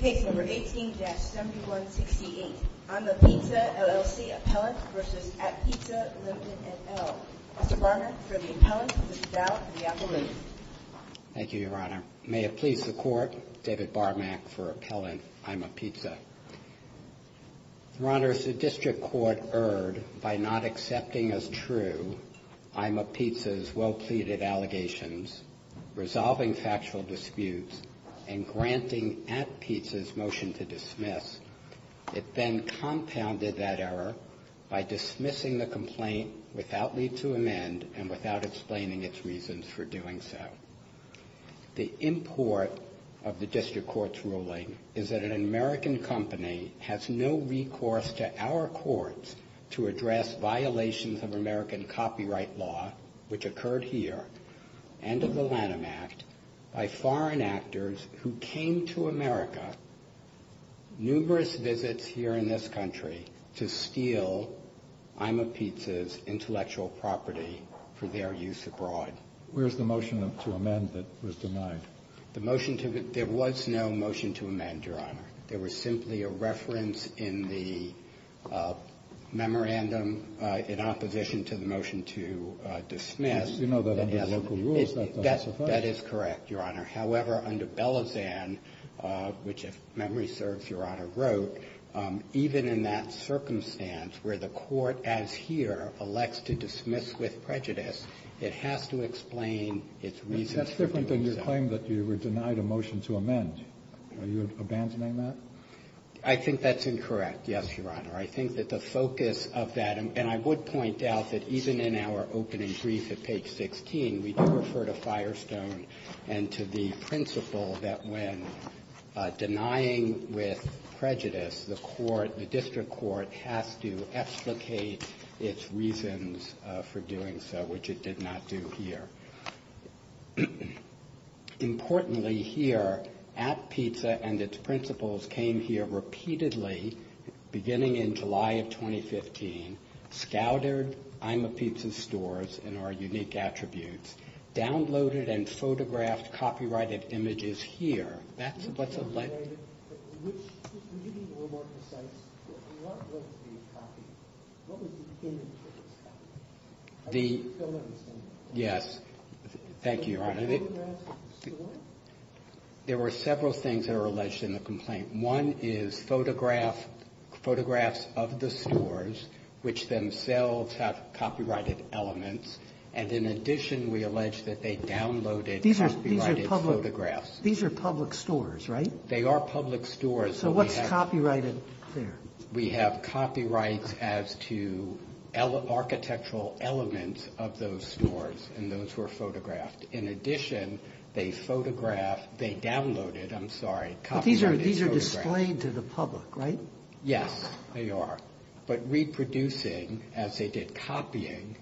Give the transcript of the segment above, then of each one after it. Case No. 18-7168 I'm-a-Pizza, LLC Appellant v. At Pizza Limited, et al. Mr. Barnard, for the appellant. Mr. Dowd, for the appellant. Thank you, Your Honor. May it please the Court, David Barmack for appellant, I'm-a-Pizza. Your Honor, is the District Court erred by not accepting as true I'm-a-Pizza's well-pleaded allegations, resolving factual disputes, and granting At Pizza's motion to dismiss. It then compounded that error by dismissing the complaint without leave to amend and without explaining its reasons for doing so. The import of the District Court's ruling is that an American company has no recourse to our courts to address violations of American copyright law, which occurred here, and of the Lanham Act by foreign actors who came to America, numerous visits here in this country, to steal I'm-a-Pizza's intellectual property for their use abroad. Where's the motion to amend that was denied? There was no motion to amend, Your Honor. There was simply a reference in the memorandum in opposition to the motion to dismiss. You know that under local rules that doesn't suffice. That is correct, Your Honor. However, under Bellazan, which if memory serves, Your Honor, wrote, even in that circumstance where the Court as here elects to dismiss with prejudice, it has to explain its reasons for doing so. And that's different than your claim that you were denied a motion to amend. Are you abandoning that? I think that's incorrect, yes, Your Honor. I think that the focus of that, and I would point out that even in our opening brief at page 16, we do refer to Firestone and to the principle that when denying with prejudice, the court, the District Court has to explicate its reasons for doing so, which it did not do here. Importantly here, AppPizza and its principles came here repeatedly beginning in July of 2015, scouted IMApizza stores and our unique attributes, downloaded and photographed copyrighted images here. That's what's alleged. Yes. Thank you, Your Honor. There were several things that are alleged in the complaint. One is photograph, photographs of the stores, which themselves have copyrighted elements, and in addition, we allege that they downloaded copyrighted photographs. These are public stores, right? They are public stores. So what's copyrighted there? We have copyrights as to architectural elements of those stores and those were photographed. In addition, they photographed, they downloaded, I'm sorry, copyrighted photographs. But these are displayed to the public, right? Yes, they are. But reproducing, as they did copying,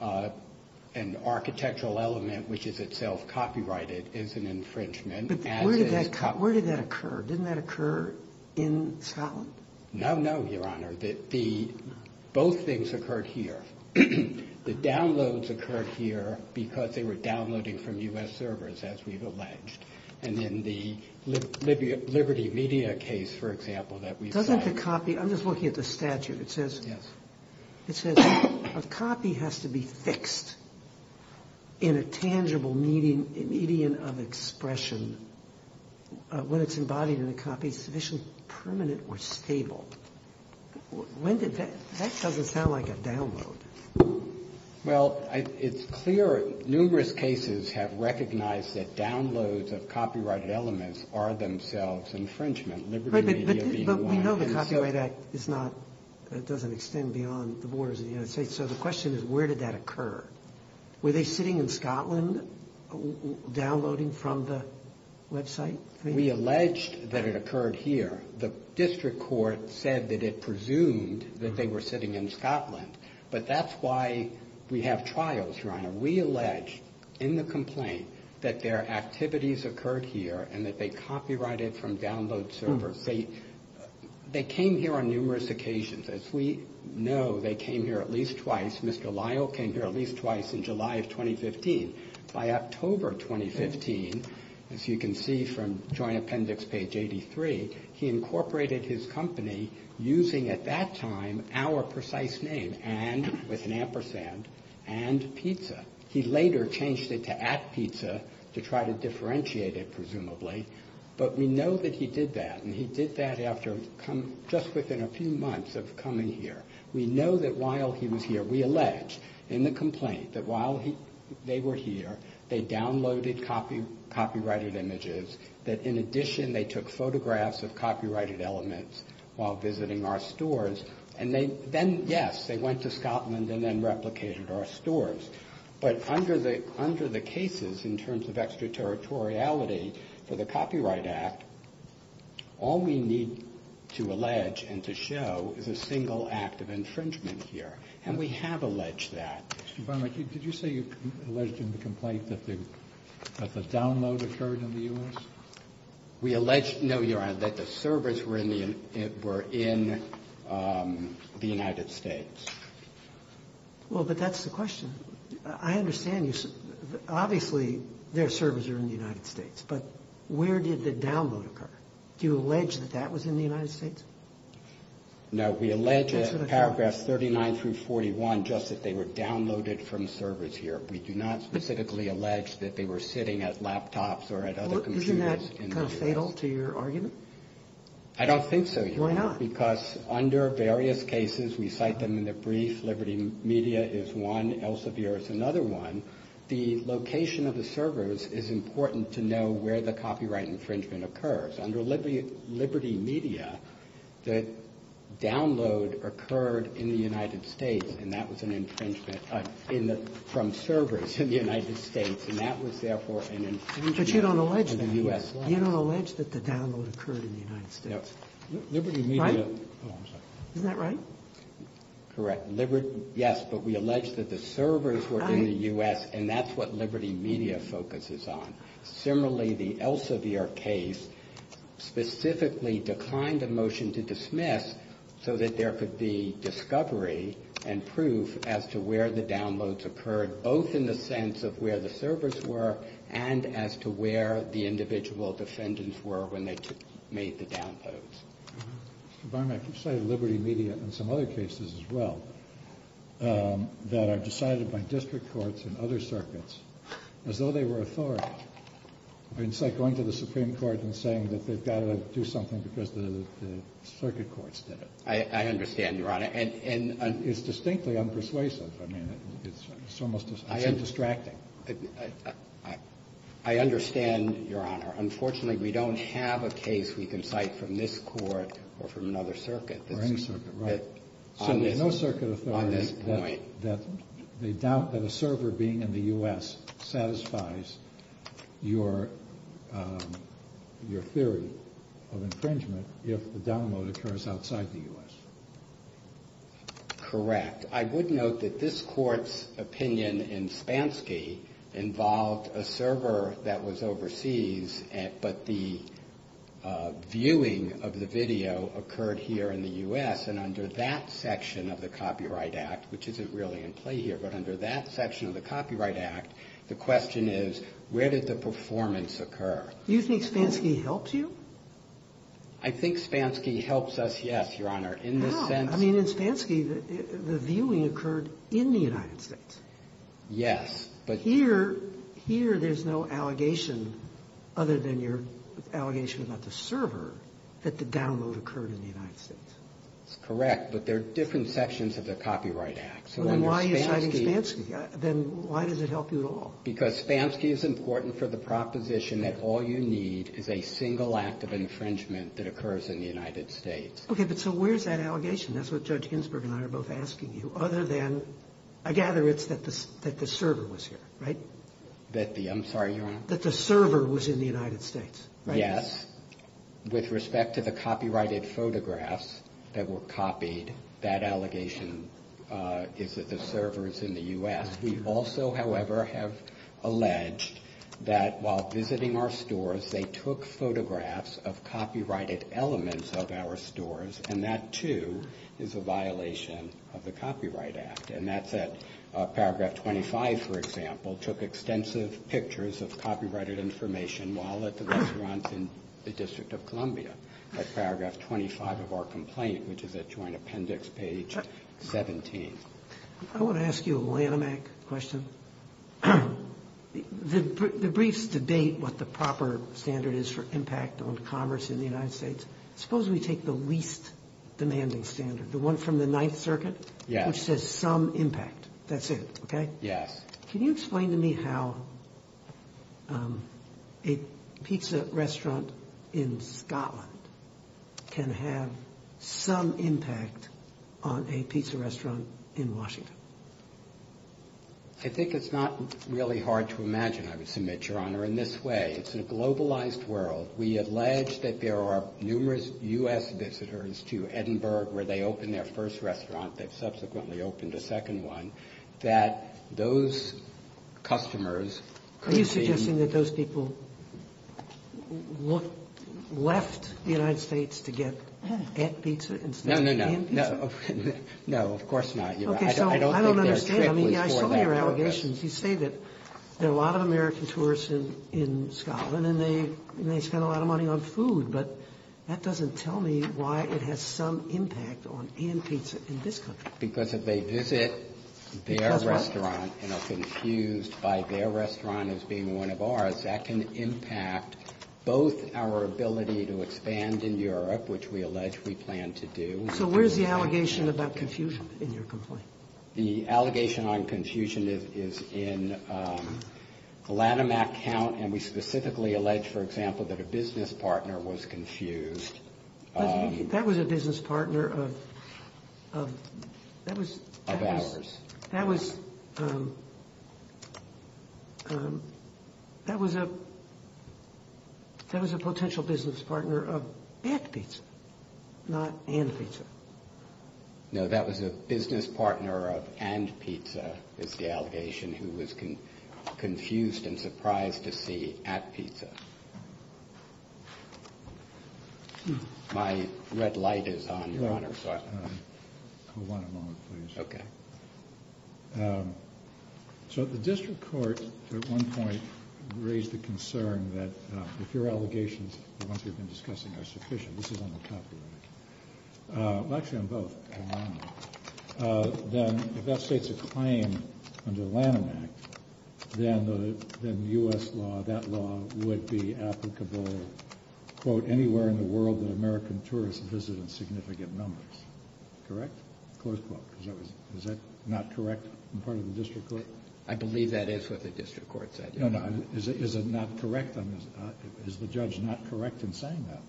an architectural element which is itself copyrighted is an infringement. But where did that occur? Didn't that occur in solid? No, no, Your Honor. Both things occurred here. The downloads occurred here because they were downloading from U.S. servers, as we've alleged. And in the Liberty Media case, for example, that we've cited. Doesn't the copy, I'm just looking at the statute. It says. Yes. The median of expression, when it's embodied in a copy, is sufficiently permanent or stable. When did that, that doesn't sound like a download. Well, it's clear numerous cases have recognized that downloads of copyrighted elements are themselves infringement. Liberty Media being one. But we know the Copyright Act is not, it doesn't extend beyond the borders of the United States. So the question is where did that occur? Were they sitting in Scotland downloading from the website? We alleged that it occurred here. The district court said that it presumed that they were sitting in Scotland. But that's why we have trials, Your Honor. We allege in the complaint that their activities occurred here and that they copyrighted from download servers. They came here on numerous occasions. As we know, they came here at least twice. Mr. Lyle came here at least twice in July of 2015. By October 2015, as you can see from Joint Appendix Page 83, he incorporated his company using at that time our precise name. And, with an ampersand, and pizza. He later changed it to at pizza to try to differentiate it, presumably. But we know that he did that. And he did that after, just within a few months of coming here. We know that while he was here, we allege in the complaint that while they were here, they downloaded copyrighted images. That, in addition, they took photographs of copyrighted elements while visiting our stores. And then, yes, they went to Scotland and then replicated our stores. But under the cases, in terms of extraterritoriality for the Copyright Act, all we need to allege and to show is a single act of infringement here. And we have alleged that. Mr. Barnett, did you say you alleged in the complaint that the download occurred in the U.S.? We allege, no, Your Honor, that the servers were in the United States. Well, but that's the question. I understand you. Obviously, their servers are in the United States. But where did the download occur? Do you allege that that was in the United States? No, we allege in paragraphs 39 through 41 just that they were downloaded from servers here. We do not specifically allege that they were sitting at laptops or at other computers. Isn't that kind of fatal to your argument? I don't think so, Your Honor. Why not? Because under various cases, we cite them in the brief. Liberty Media is one. Elsevier is another one. The location of the servers is important to know where the copyright infringement occurs. Under Liberty Media, the download occurred in the United States, and that was an infringement from servers in the United States. And that was, therefore, an infringement in the U.S. law. But you don't allege that the download occurred in the United States. No. Liberty Media. Right? Oh, I'm sorry. Isn't that right? Correct. Yes, but we allege that the servers were in the U.S., and that's what Liberty Media focuses on. Similarly, the Elsevier case specifically declined a motion to dismiss so that there could be discovery and proof as to where the downloads occurred, both in the sense of where the servers were and as to where the individual defendants were when they made the downloads. Mr. Barnett, you cited Liberty Media in some other cases as well that are decided by district courts and other circuits as though they were authority. I mean, it's like going to the Supreme Court and saying that they've got to do something because the circuit courts did it. I understand, Your Honor. And it's distinctly unpersuasive. I mean, it's almost distracting. I understand, Your Honor. Unfortunately, we don't have a case we can cite from this court or from another circuit. Or any circuit, right. So there's no circuit authority that they doubt that a server being in the U.S. satisfies your theory of infringement if the download occurs outside the U.S. Correct. I would note that this court's opinion in Spansky involved a server that was overseas, but the viewing of the video occurred here in the U.S. And under that section of the Copyright Act, which isn't really in play here, but under that section of the Copyright Act, the question is where did the performance occur? Do you think Spansky helped you? I think Spansky helps us, yes, Your Honor. No. I mean, in Spansky, the viewing occurred in the United States. Yes. But here, there's no allegation other than your allegation about the server that the download occurred in the United States. That's correct, but they're different sections of the Copyright Act. Then why are you citing Spansky? Then why does it help you at all? Because Spansky is important for the proposition that all you need is a single act of infringement that occurs in the United States. Okay, but so where's that allegation? That's what Judge Ginsburg and I are both asking you. Other than, I gather it's that the server was here, right? I'm sorry, Your Honor? That the server was in the United States, right? Yes. With respect to the copyrighted photographs that were copied, that allegation is that the server is in the U.S. We also, however, have alleged that while visiting our stores, they took photographs of copyrighted elements of our stores, and that, too, is a violation of the Copyright Act. And that's at paragraph 25, for example, took extensive pictures of copyrighted information while at the restaurants in the District of Columbia, at paragraph 25 of our complaint, which is at Joint Appendix page 17. I want to ask you a Lanhamac question. The briefs debate what the proper standard is for impact on commerce in the United States. Suppose we take the least demanding standard, the one from the Ninth Circuit, which says some impact. That's it, okay? Yes. Can you explain to me how a pizza restaurant in Scotland can have some impact on a pizza restaurant in Washington? I think it's not really hard to imagine, I would submit, Your Honor, in this way. It's a globalized world. We allege that there are numerous U.S. visitors to Edinburgh where they opened their first restaurant. They've subsequently opened a second one. That those customers could be. Are you suggesting that those people left the United States to get ant pizza instead of ant pizza? No, no, no. No, of course not, Your Honor. I don't think their trip was for that purpose. Okay, so I don't understand. I mean, I saw your allegations. You say that there are a lot of American tourists in Scotland, and they spend a lot of money on food. But that doesn't tell me why it has some impact on ant pizza in this country. Because if they visit their restaurant and are confused by their restaurant as being one of ours, that can impact both our ability to expand in Europe, which we allege we plan to do. So where's the allegation about confusion in your complaint? The allegation on confusion is in the Lanham Act count, and we specifically allege, for example, that a business partner was confused. That was a business partner of ours. That was a potential business partner of ant pizza, not ant pizza. No, that was a business partner of ant pizza, is the allegation, who was confused and surprised to see ant pizza. My red light is on, Your Honor. Hold on a moment, please. Okay. So the district court at one point raised the concern that if your allegations, the ones we've been discussing, are sufficient. This is on the copy right. Well, actually, on both. Then if that states a claim under the Lanham Act, then the U.S. law, that law, would be applicable, quote, anywhere in the world that American tourists visit in significant numbers. Correct? Close quote. Is that not correct on the part of the district court? I believe that is what the district court said. No, no. Is it not correct? Is the judge not correct in saying that?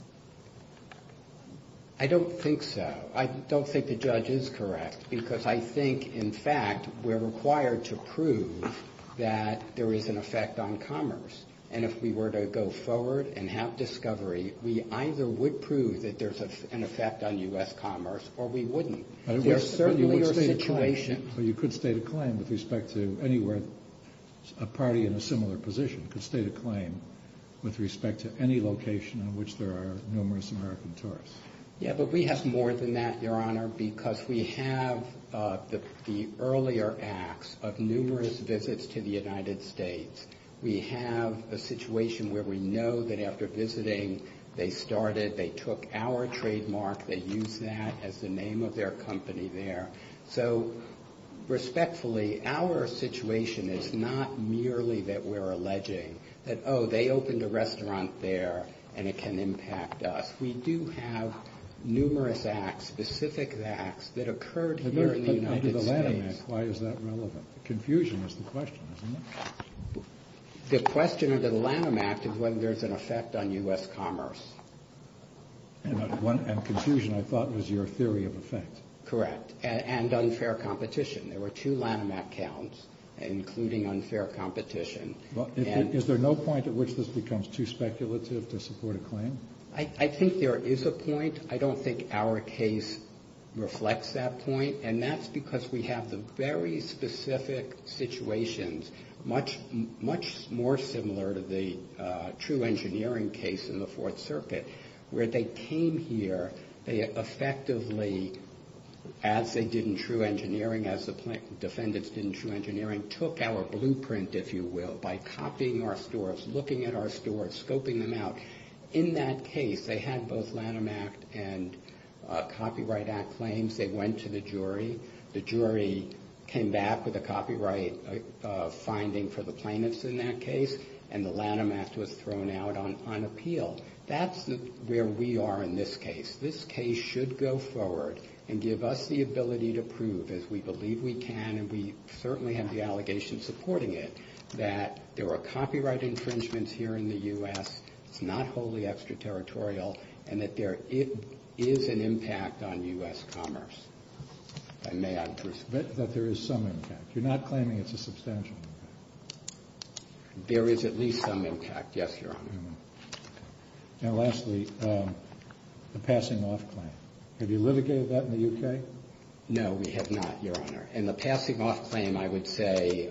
I don't think so. I don't think the judge is correct, because I think, in fact, we're required to prove that there is an effect on commerce. And if we were to go forward and have discovery, we either would prove that there's an effect on U.S. commerce, or we wouldn't. There certainly are situations. But you could state a claim with respect to anywhere a party in a similar position could state a claim with respect to any location in which there are numerous American tourists. Yeah, but we have more than that, Your Honor, because we have the earlier acts of numerous visits to the United States. We have a situation where we know that after visiting, they started, they took our trademark, they used that as the name of their company there. So, respectfully, our situation is not merely that we're alleging that, oh, they opened a restaurant there and it can impact us. We do have numerous acts, specific acts, that occurred here in the United States. The Lanham Act, why is that relevant? Confusion is the question, isn't it? The question of the Lanham Act is whether there's an effect on U.S. commerce. And confusion, I thought, was your theory of effect. Correct. And unfair competition. There were two Lanham Act counts, including unfair competition. Is there no point at which this becomes too speculative to support a claim? I think there is a point. I don't think our case reflects that point. And that's because we have the very specific situations, much more similar to the true engineering case in the Fourth Circuit, where they came here, they effectively, as they did in true engineering, as the defendants did in true engineering, took our blueprint, if you will, by copying our stores, looking at our stores, scoping them out. In that case, they had both Lanham Act and Copyright Act claims. They went to the jury. The jury came back with a copyright finding for the plaintiffs in that case, and the Lanham Act was thrown out on appeal. That's where we are in this case. This case should go forward and give us the ability to prove, as we believe we can, and we certainly have the allegations supporting it, that there were copyright infringements here in the U.S. It's not wholly extraterritorial, and that there is an impact on U.S. commerce. And may I presume? That there is some impact. You're not claiming it's a substantial impact. There is at least some impact, yes, Your Honor. And lastly, the passing off claim. Have you litigated that in the U.K.? No, we have not, Your Honor. And the passing off claim, I would say,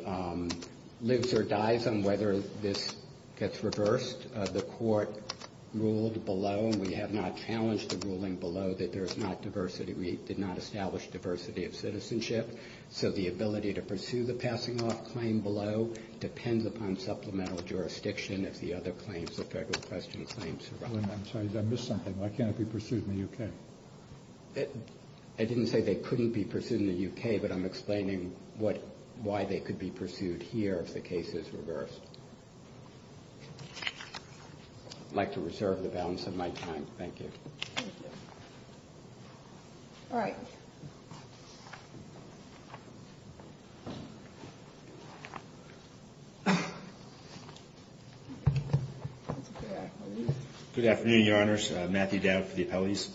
lives or dies on whether this gets reversed. The court ruled below, and we have not challenged the ruling below, that there is not diversity. We did not establish diversity of citizenship. So the ability to pursue the passing off claim below depends upon supplemental jurisdiction, if the other claims, the federal question claims, are up. I'm sorry, did I miss something? Why can't it be pursued in the U.K.? I didn't say they couldn't be pursued in the U.K., but I'm explaining why they could be pursued here if the case is reversed. I'd like to reserve the balance of my time. Thank you. Thank you. All right. Good afternoon, Your Honors. Matthew Dowd for the appellees.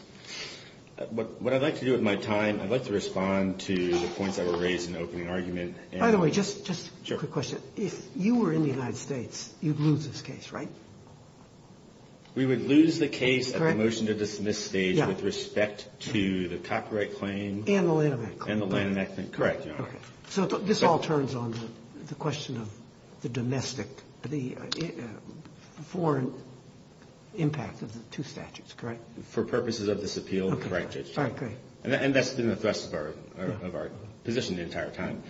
What I'd like to do with my time, I'd like to respond to the points that were raised in the opening argument. By the way, just a quick question. If you were in the United States, you'd lose this case, right? We would lose the case at the motion to dismiss stage with respect to the copyright claim and the land enactment. Correct, Your Honor. So this all turns on the question of the domestic, the foreign impact of the two statutes, correct? For purposes of this appeal, correct, Judge. All right, great. And that's been the thrust of our position the entire time.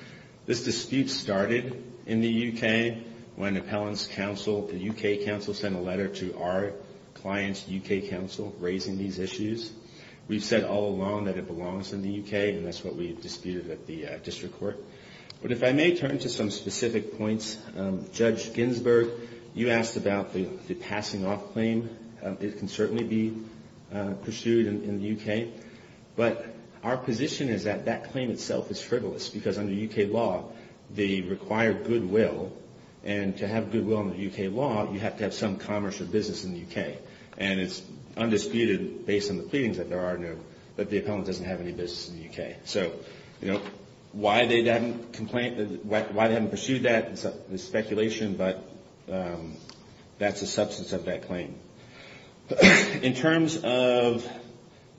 This dispute started in the U.K. when appellants counsel, the U.K. counsel, sent a letter to our client's U.K. counsel raising these issues. We've said all along that it belongs in the U.K., and that's what we've disputed at the district court. But if I may turn to some specific points. Judge Ginsburg, you asked about the passing off claim. It can certainly be pursued in the U.K. But our position is that that claim itself is frivolous because under U.K. law, they require goodwill. And to have goodwill under U.K. law, you have to have some commerce or business in the U.K. And it's undisputed based on the pleadings that there are in there that the U.K. So, you know, why they haven't pursued that is speculation, but that's a substance of that claim. In terms of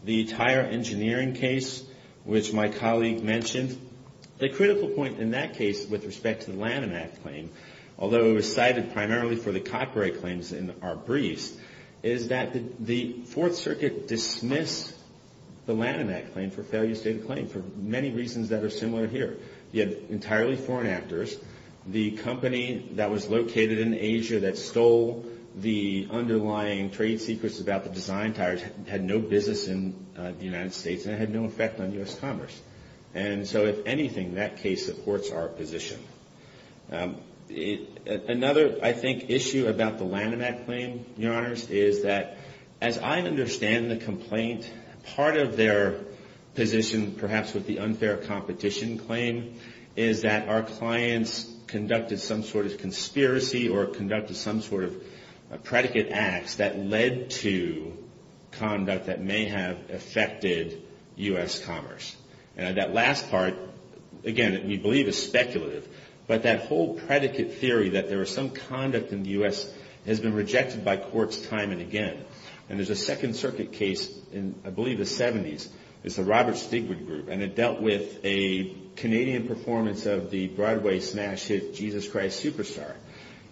the tire engineering case, which my colleague mentioned, the critical point in that case with respect to the Lanham Act claim, although it was cited primarily for the copyright claims in our briefs, is that the Fourth Circuit dismissed the Lanham Act claim for failure to state a claim for many reasons that are similar here. You had entirely foreign actors. The company that was located in Asia that stole the underlying trade secrets about the design tires had no business in the United States and it had no effect on U.S. commerce. And so, if anything, that case supports our position. Another, I think, issue about the Lanham Act claim, Your Honors, is that as I understand the complaint, part of their position, perhaps with the unfair competition claim, is that our clients conducted some sort of conspiracy or conducted some sort of predicate acts that led to conduct that may have affected U.S. commerce. And that last part, again, we believe is speculative, but that whole predicate theory that there was some conduct in the U.S. has been rejected by courts time and again. And there's a Second Circuit case in, I believe, the 70s. It's the Robert Stigwood Group, and it dealt with a Canadian performance of the Broadway smash hit, Jesus Christ Superstar.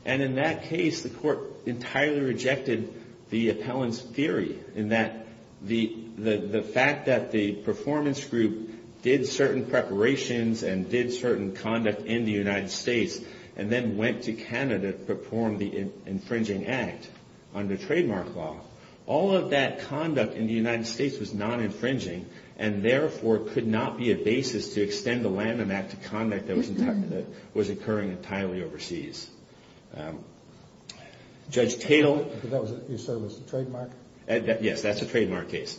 And in that case, the court entirely rejected the appellant's theory in that the fact that the performance group did certain preparations and did certain conduct in the United States, and then went to Canada to perform the infringing act under trademark law, all of that conduct in the United States was non-infringing and, therefore, could not be a basis to extend the Lanham Act to conduct that was occurring entirely overseas. Judge Tatel. That was at your service, the trademark? Yes, that's a trademark case.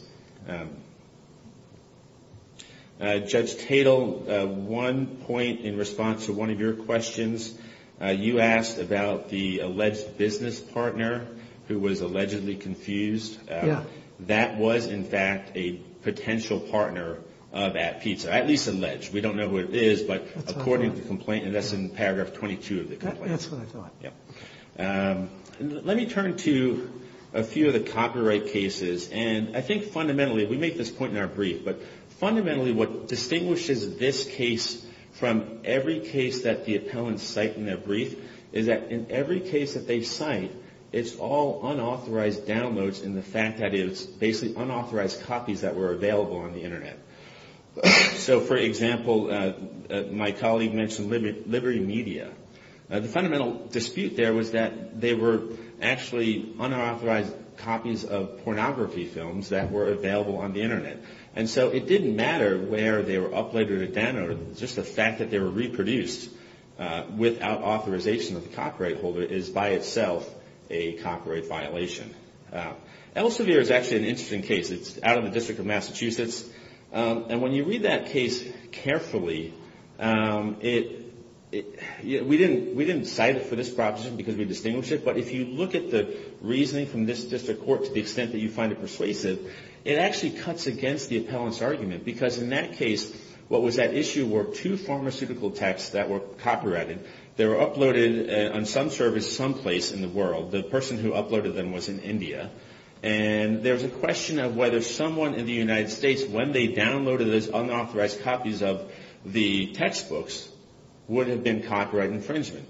Judge Tatel, one point in response to one of your questions, you asked about the alleged business partner who was allegedly confused. Yeah. That was, in fact, a potential partner of App Pizza, at least alleged. We don't know who it is, but according to the complaint, and that's in paragraph 22 of the complaint. That's what I thought. Let me turn to a few of the copyright cases. And I think fundamentally, we make this point in our brief, but fundamentally what distinguishes this case from every case that the appellants cite in their brief is that in every case that they cite, it's all unauthorized downloads and the fact that it's basically unauthorized copies that were available on the Internet. So, for example, my colleague mentioned Liberty Media. The fundamental dispute there was that they were actually unauthorized copies of pornography films that were available on the Internet. And so it didn't matter where they were uploaded or downloaded. Just the fact that they were reproduced without authorization of the copyright holder is, by itself, a copyright violation. Elsevier is actually an interesting case. It's out of the District of Massachusetts. And when you read that case carefully, we didn't cite it for this proposition because we distinguished it, but if you look at the reasoning from this District Court to the extent that you find it persuasive, it actually cuts against the appellant's argument because in that case, what was at issue were two pharmaceutical texts that were copyrighted. They were uploaded on some service someplace in the world. The person who uploaded them was in India. And there was a question of whether someone in the United States, when they downloaded those unauthorized copies of the textbooks, would have been copyright infringement.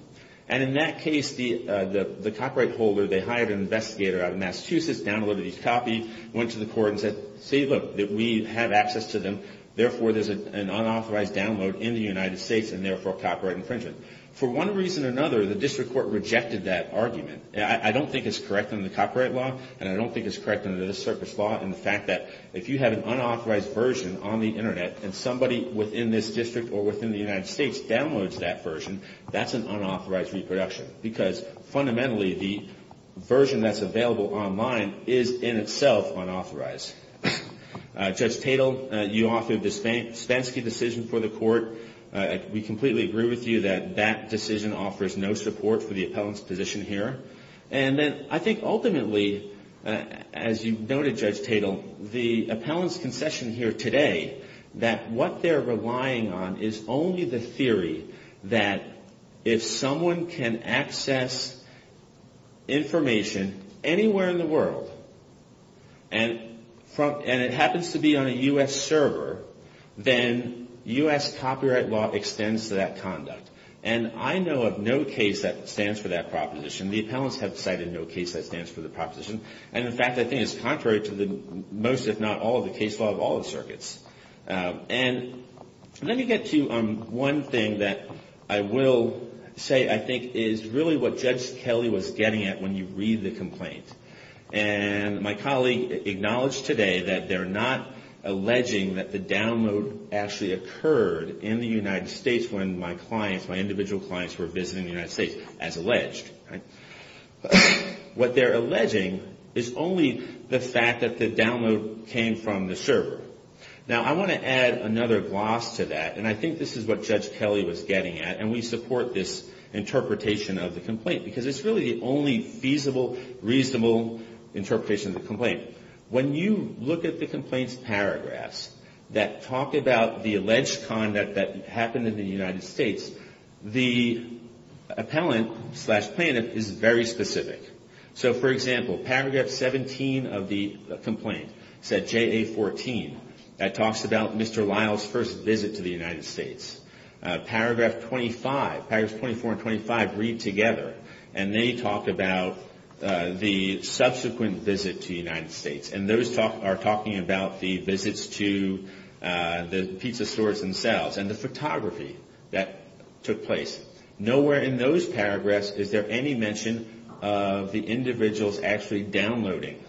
And in that case, the copyright holder, they hired an investigator out of Massachusetts, downloaded these copies, went to the court and said, see, look, we have access to them. Therefore, there's an unauthorized download in the United States and, therefore, copyright infringement. For one reason or another, the District Court rejected that argument. I don't think it's correct under the copyright law, and I don't think it's correct under this circuit's law in the fact that if you have an unauthorized version on the Internet and somebody within this district or within the United States downloads that version, that's an unauthorized reproduction because, fundamentally, the version that's available online is in itself unauthorized. Judge Tatel, you offered the Spansky decision for the court. We completely agree with you that that decision offers no support for the court. And then I think, ultimately, as you noted, Judge Tatel, the appellant's concession here today that what they're relying on is only the theory that if someone can access information anywhere in the world and it happens to be on a U.S. server, then U.S. copyright law extends to that conduct. And I know of no case that stands for that proposition. The appellants have cited no case that stands for the proposition. And, in fact, I think it's contrary to the most, if not all, of the case law of all the circuits. And let me get to one thing that I will say I think is really what Judge Kelly was getting at when you read the complaint. And my colleague acknowledged today that they're not alleging that the download actually occurred in the United States when my clients, my individual clients, were visiting the United States, as alleged. What they're alleging is only the fact that the download came from the server. Now, I want to add another gloss to that. And I think this is what Judge Kelly was getting at. And we support this interpretation of the complaint because it's really the only feasible, reasonable interpretation of the complaint. When you look at the complaint's paragraphs that talk about the alleged conduct that happened in the United States, the appellant slash plaintiff is very specific. So, for example, paragraph 17 of the complaint, set JA-14, that talks about Mr. Lyle's first visit to the United States. Paragraph 25, paragraphs 24 and 25 read together, and they talk about the subsequent visit to the United States. And those are talking about the visits to the pizza stores themselves and the photography that took place. Nowhere in those paragraphs is there any mention of the individuals actually downloading.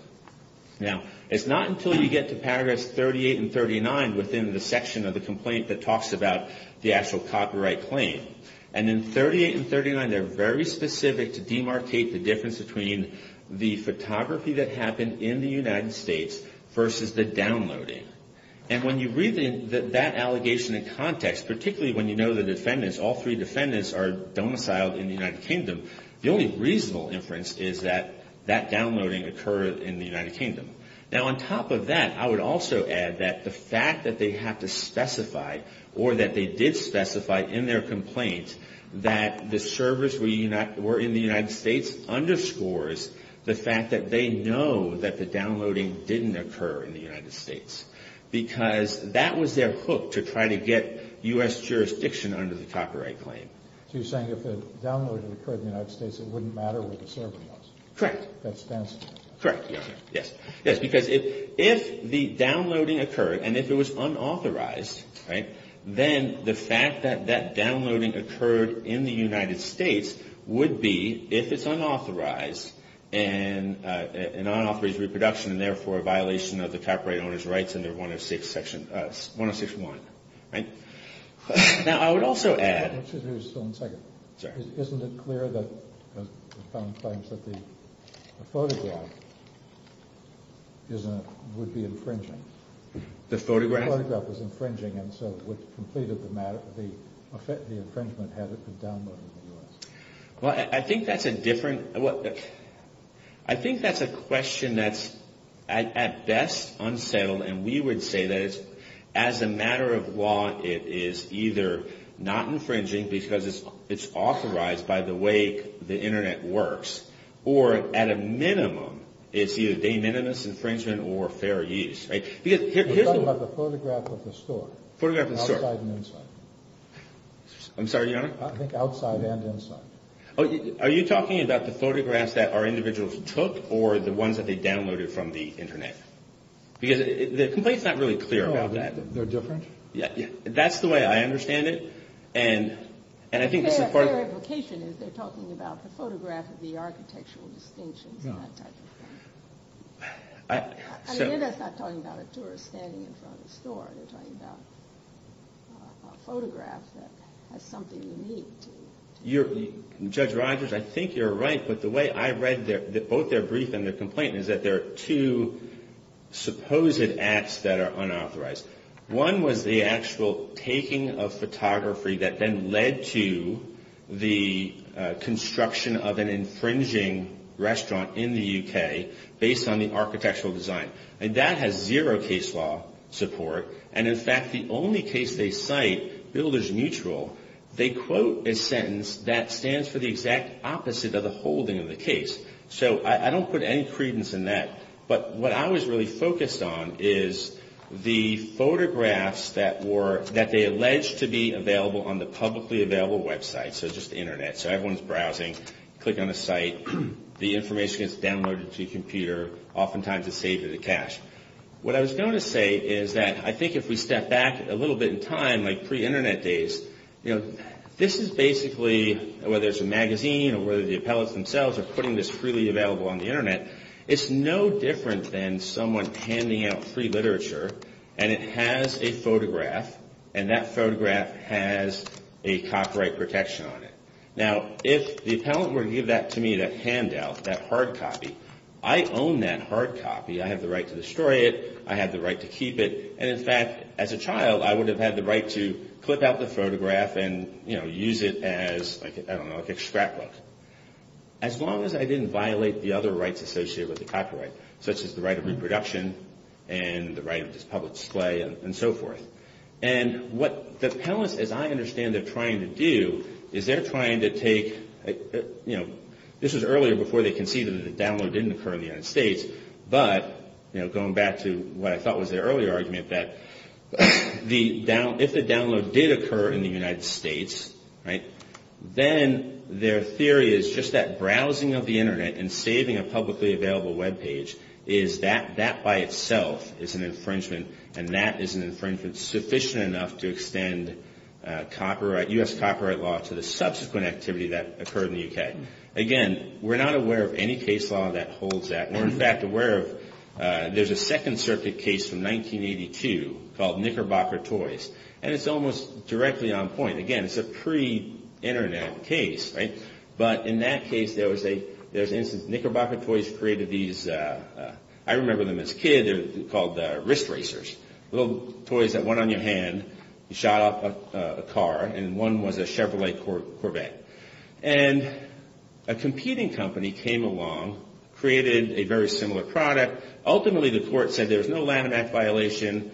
Now, it's not until you get to paragraphs 38 and 39 within the section of the complaint that talks about the actual copyright claim. And in 38 and 39, they're very specific to demarcate the difference between the photography that happened in the United States versus the downloading. And when you read that allegation in context, particularly when you know the defendants, all three defendants are domiciled in the United Kingdom, the only reasonable inference is that that downloading occurred in the United Kingdom. Now, on top of that, I would also add that the fact that they have to specify or that they did specify in their complaint that the servers were in the United States underscores the fact that they know that the downloading didn't occur in the United States because that was their hook to try to get U.S. jurisdiction under the copyright claim. So you're saying if the downloading occurred in the United States, it wouldn't matter where the server was? Correct. That's the answer? Correct. Yes. Yes, because if the downloading occurred and if it was unauthorized, right, then the fact that that downloading occurred in the United States would be, if it's unauthorized, an unauthorized reproduction and therefore a violation of the copyright owner's rights under 106 section, 106.1, right? Now, I would also add. Excuse me just one second. Sorry. Isn't it clear that the phone claims that the photograph would be infringing? The photograph? The photograph was infringing and so it completed the matter. The infringement had it downloaded in the U.S. Well, I think that's a different. I think that's a question that's at best unsettled and we would say that as a matter of law, it is either not infringing because it's authorized by the way the Internet works or at a minimum, it's either de minimis infringement or fair use, right? We're talking about the photograph of the store. Photograph of the store. Outside and inside. I'm sorry, Your Honor? I think outside and inside. Are you talking about the photographs that our individuals took or the ones that they downloaded from the Internet? Because the complaint's not really clear about that. They're different? Yeah. That's the way I understand it. And I think this is part of. Their implication is they're talking about the photograph of the architectural distinctions and that type of thing. No. I hear that's not talking about a tourist standing in front of a store. They're talking about a photograph that has something unique to it. Judge Rogers, I think you're right, but the way I read both their brief and their one was the actual taking of photography that then led to the construction of an infringing restaurant in the U.K. based on the architectural design. And that has zero case law support. And, in fact, the only case they cite, builders neutral, they quote a sentence that stands for the exact opposite of the holding of the case. So I don't put any credence in that. But what I was really focused on is the photographs that they alleged to be available on the publicly available websites, so just the Internet. So everyone's browsing, click on a site, the information gets downloaded to a computer, oftentimes it's saved in the cache. What I was going to say is that I think if we step back a little bit in time, like pre-Internet days, this is basically, whether it's a magazine or whether the appellates themselves are putting this freely available on the Internet, it's no different than someone handing out free literature and it has a photograph and that photograph has a copyright protection on it. Now, if the appellant were to give that to me, that handout, that hard copy, I own that hard copy. I have the right to destroy it. I have the right to keep it. And, in fact, as a child, I would have had the right to clip out the photograph and, you know, use it as, I don't know, like a scrapbook. As long as I didn't violate the other rights associated with the copyright, such as the right of reproduction and the right of public display and so forth. And what the appellants, as I understand they're trying to do, is they're trying to take, you know, this was earlier before they conceded that the download didn't occur in the United States, but, you know, going back to what I thought was their earlier argument, that if the download did occur in the United States, right, then their theory is just that browsing of the Internet and saving a publicly available web page is that, that by itself is an infringement and that is an infringement sufficient enough to extend copyright, U.S. copyright law to the subsequent activity that occurred in the U.K. Again, we're not aware of any case law that holds that. We're, in fact, aware of, there's a Second Circuit case from 1982 called Knickerbocker Toys, and it's almost directly on point. Again, it's a pre-Internet case, right? But in that case, there was an instance, Knickerbocker Toys created these, I remember them as a kid, they're called wrist racers, little toys that went on your hand, you shot off a car, and one was a Chevrolet Corvette. And a competing company came along, created a very similar product. Ultimately, the court said there was no Latinx violation,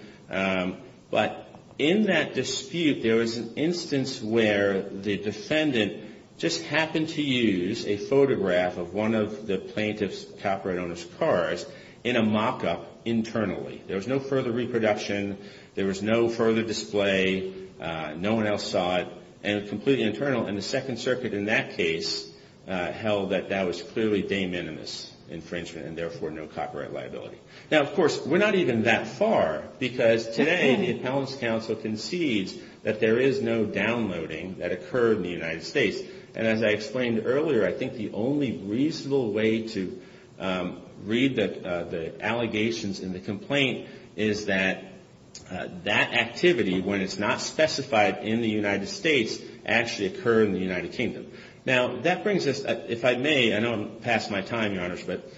but in that dispute, there was an instance where the defendant just happened to use a photograph of one of the plaintiff's copyright owner's cars in a mock-up internally. There was no further reproduction. There was no further display. No one else saw it, and it was completely internal, and the Second Circuit in that case held that that was clearly de minimis infringement and therefore no copyright liability. Now, of course, we're not even that far, because today the Appellant's Counsel concedes that there is no downloading that occurred in the United States. And as I explained earlier, I think the only reasonable way to read the allegations in the complaint is that that activity, when it's not specified in the United States, actually occurred in the United Kingdom. Now, that brings us, if I may, I know I'm past my time, Your Honors, but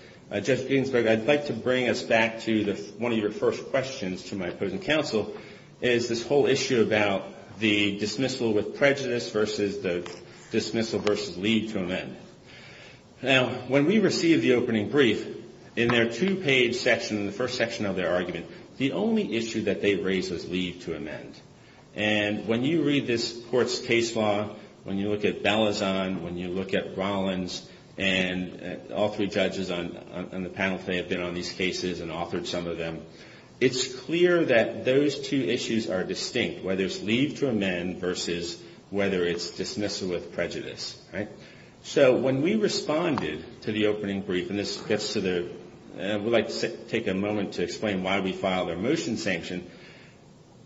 Judge Ginsburg, I'd like to bring us back to one of your first questions to my opposing counsel, is this whole issue about the dismissal with prejudice versus the dismissal versus leave to amend. Now, when we received the opening brief, in their two-page section, in the first section of their argument, the only issue that they raised was leave to amend. And when you read this court's case law, when you look at Balazon, when you look at Rollins, and all three judges on the panel today have been on these cases and authored some of them, it's clear that those two issues are distinct, whether it's leave to amend versus whether it's dismissal with prejudice, right? So when we responded to the opening brief, and this gets to the – I would like to take a moment to explain why we filed our motion sanction.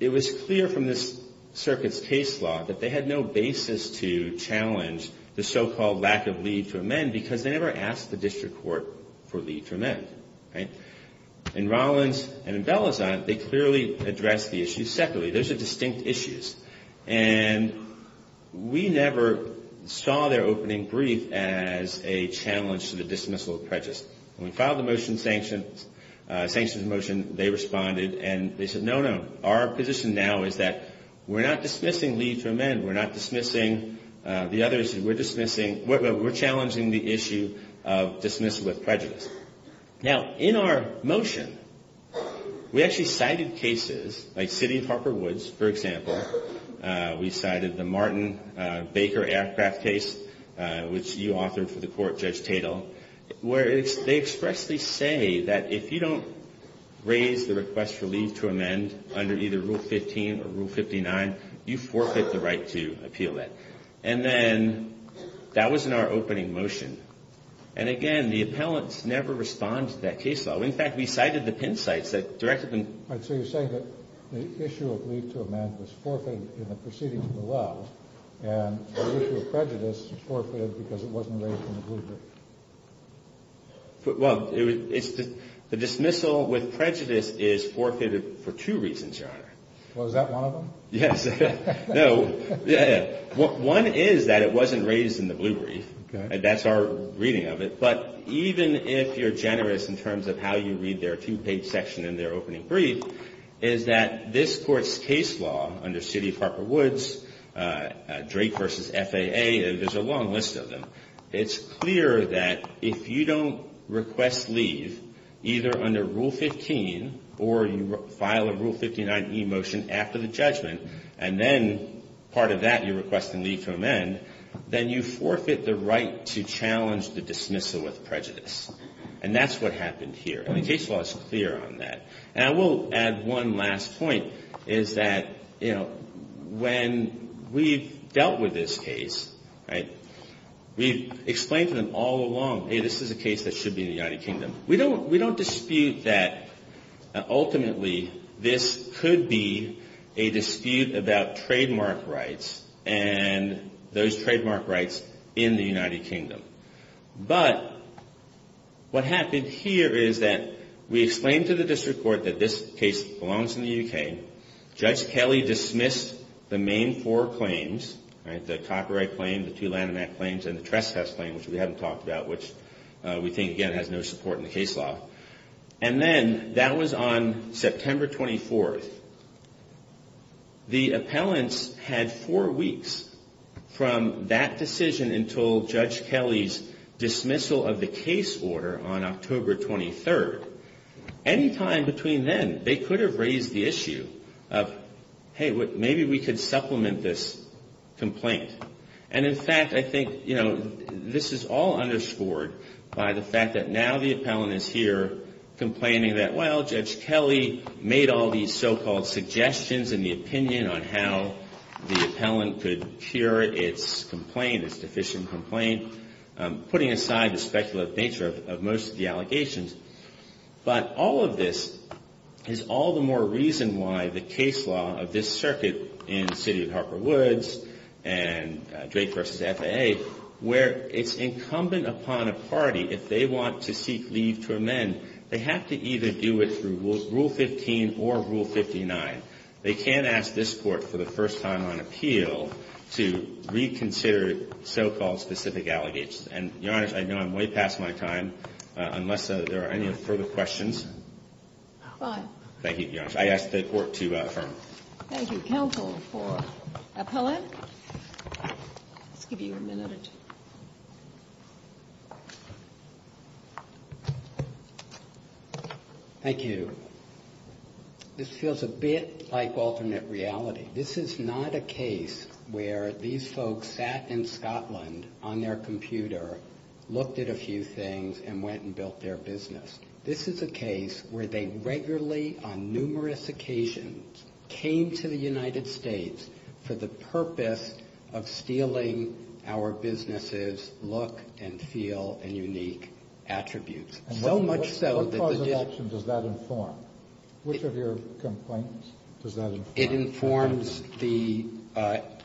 It was clear from this circuit's case law that they had no basis to challenge the so-called lack of leave to amend because they never asked the district court for leave to amend, right? In Rollins and in Balazon, they clearly addressed the issue separately. Those are distinct issues. And we never saw their opening brief as a challenge to the dismissal of prejudice. When we filed the motion – sanctions motion, they responded and they said, no, no, our position now is that we're not dismissing leave to amend. We're not dismissing the other issues. We're dismissing – we're challenging the issue of dismissal with prejudice. Now, in our motion, we actually cited cases like City of Harper Woods, for example. We cited the Martin Baker aircraft case, which you authored for the court, Judge Tatel, where they expressly say that if you don't raise the request for leave to amend under either Rule 15 or Rule 59, you forfeit the right to appeal it. And then that was in our opening motion. And, again, the appellants never responded to that case law. In fact, we cited the pin sites that directed them. All right, so you're saying that the issue of leave to amend was forfeited in the proceedings below, and the issue of prejudice was forfeited because it wasn't raised in the blue brief. Well, the dismissal with prejudice is forfeited for two reasons, Your Honor. Well, is that one of them? Yes. No. One is that it wasn't raised in the blue brief. That's our reading of it. But even if you're generous in terms of how you read their two-page section in their opening brief, is that this Court's case law under City of Harper Woods, Drake v. FAA, there's a long list of them. It's clear that if you don't request leave either under Rule 15 or you file a Rule 59 e-motion after the judgment, and then part of that you request the leave to amend, then you forfeit the right to challenge the dismissal with prejudice. And that's what happened here. And the case law is clear on that. And I will add one last point, is that, you know, when we've dealt with this case, right, we've explained to them all along, hey, this is a case that should be in the United Kingdom. We don't dispute that ultimately this could be a dispute about trademark rights and those trademark rights in the United Kingdom. But what happened here is that we explained to the District Court that this case belongs in the UK. Judge Kelly dismissed the main four claims, right, the copyright claim, the two Lanham Act claims, and the trespass claim, which we haven't talked about, which we think, again, has no support in the case law. And then that was on September 24th. The appellants had four weeks from that decision until Judge Kelly's dismissal of the case order on October 23rd. Any time between then, they could have raised the issue of, hey, maybe we could supplement this complaint. And, in fact, I think, you know, this is all underscored by the fact that now the appellant is here complaining that, well, Judge Kelly made all these so-called suggestions in the opinion on how the appellant could cure its complaint, its deficient complaint, putting aside the speculative nature of most of the allegations. But all of this is all the more reason why the case law of this circuit in the city of Harper Woods and Drake v. FAA, where it's incumbent upon a party, if they want to seek leave to amend, they have to either do it through Rule 15 or Rule 59. They can't ask this Court for the first time on appeal to reconsider so-called specific allegations. And, Your Honor, I know I'm way past my time, unless there are any further questions. Thank you, Your Honor. I ask the Court to affirm. Thank you, counsel, for appellant. Let's give you a minute or two. Thank you. This feels a bit like alternate reality. This is not a case where these folks sat in Scotland on their computer, looked at a few things, and went and built their business. This is a case where they regularly, on numerous occasions, came to the United States for the purpose of stealing our businesses' look and feel and unique attributes. So much so that the dis- What cause of action does that inform? It informs the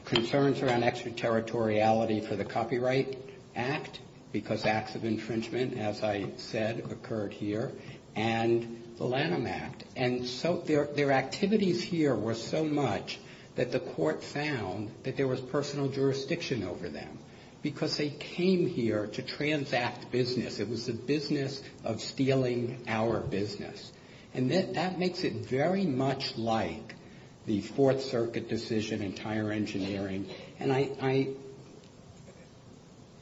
concerns around extraterritoriality for the Copyright Act, because acts of infringement, as I said, occurred here, and the Lanham Act. And so their activities here were so much that the Court found that there was personal jurisdiction over them, because they came here to transact business. It was a business of stealing our business. And that makes it very much like the Fourth Circuit decision in Tire Engineering. And I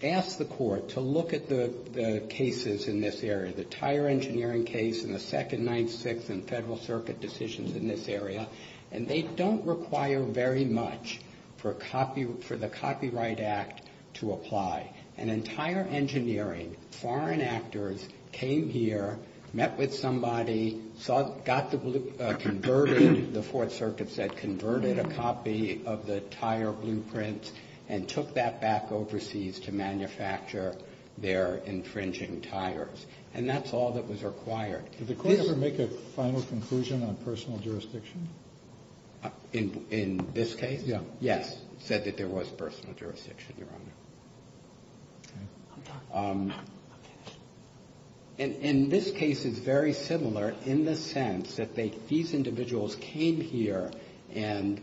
ask the Court to look at the cases in this area, the Tire Engineering case and the Second Ninth, Sixth, and Federal Circuit decisions in this area, and they don't require very much for the Copyright Act to apply. In Tire Engineering, foreign actors came here, met with somebody, got the blue- converted, the Fourth Circuit said, converted a copy of the Tire blueprints, and took that back overseas to manufacture their infringing tires. And that's all that was required. Did the Court ever make a final conclusion on personal jurisdiction? In this case? Yes. Yes, said that there was personal jurisdiction, Your Honor. And this case is very similar in the sense that these individuals came here and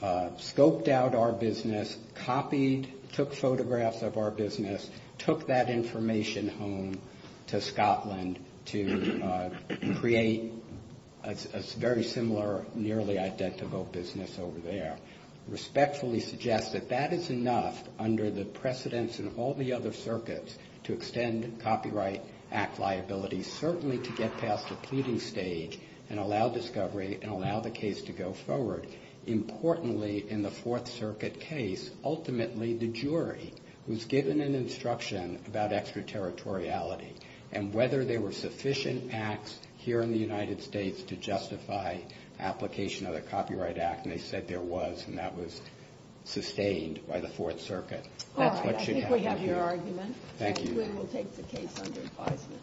scoped out our business, copied, took photographs of our business, took that information home to Scotland to create a very similar, nearly identical business over there. Respectfully suggest that that is enough under the precedence in all the other circuits to extend Copyright Act liability, certainly to get past the pleading stage and allow discovery and allow the case to go forward. Importantly, in the Fourth Circuit case, ultimately the jury was given an instruction about extraterritoriality and whether there were sufficient acts here in the United States to justify application of the Copyright Act. And they said there was. And that was sustained by the Fourth Circuit. That's what should happen here. All right. I think we have your argument. Thank you. And we'll take the case under advisement.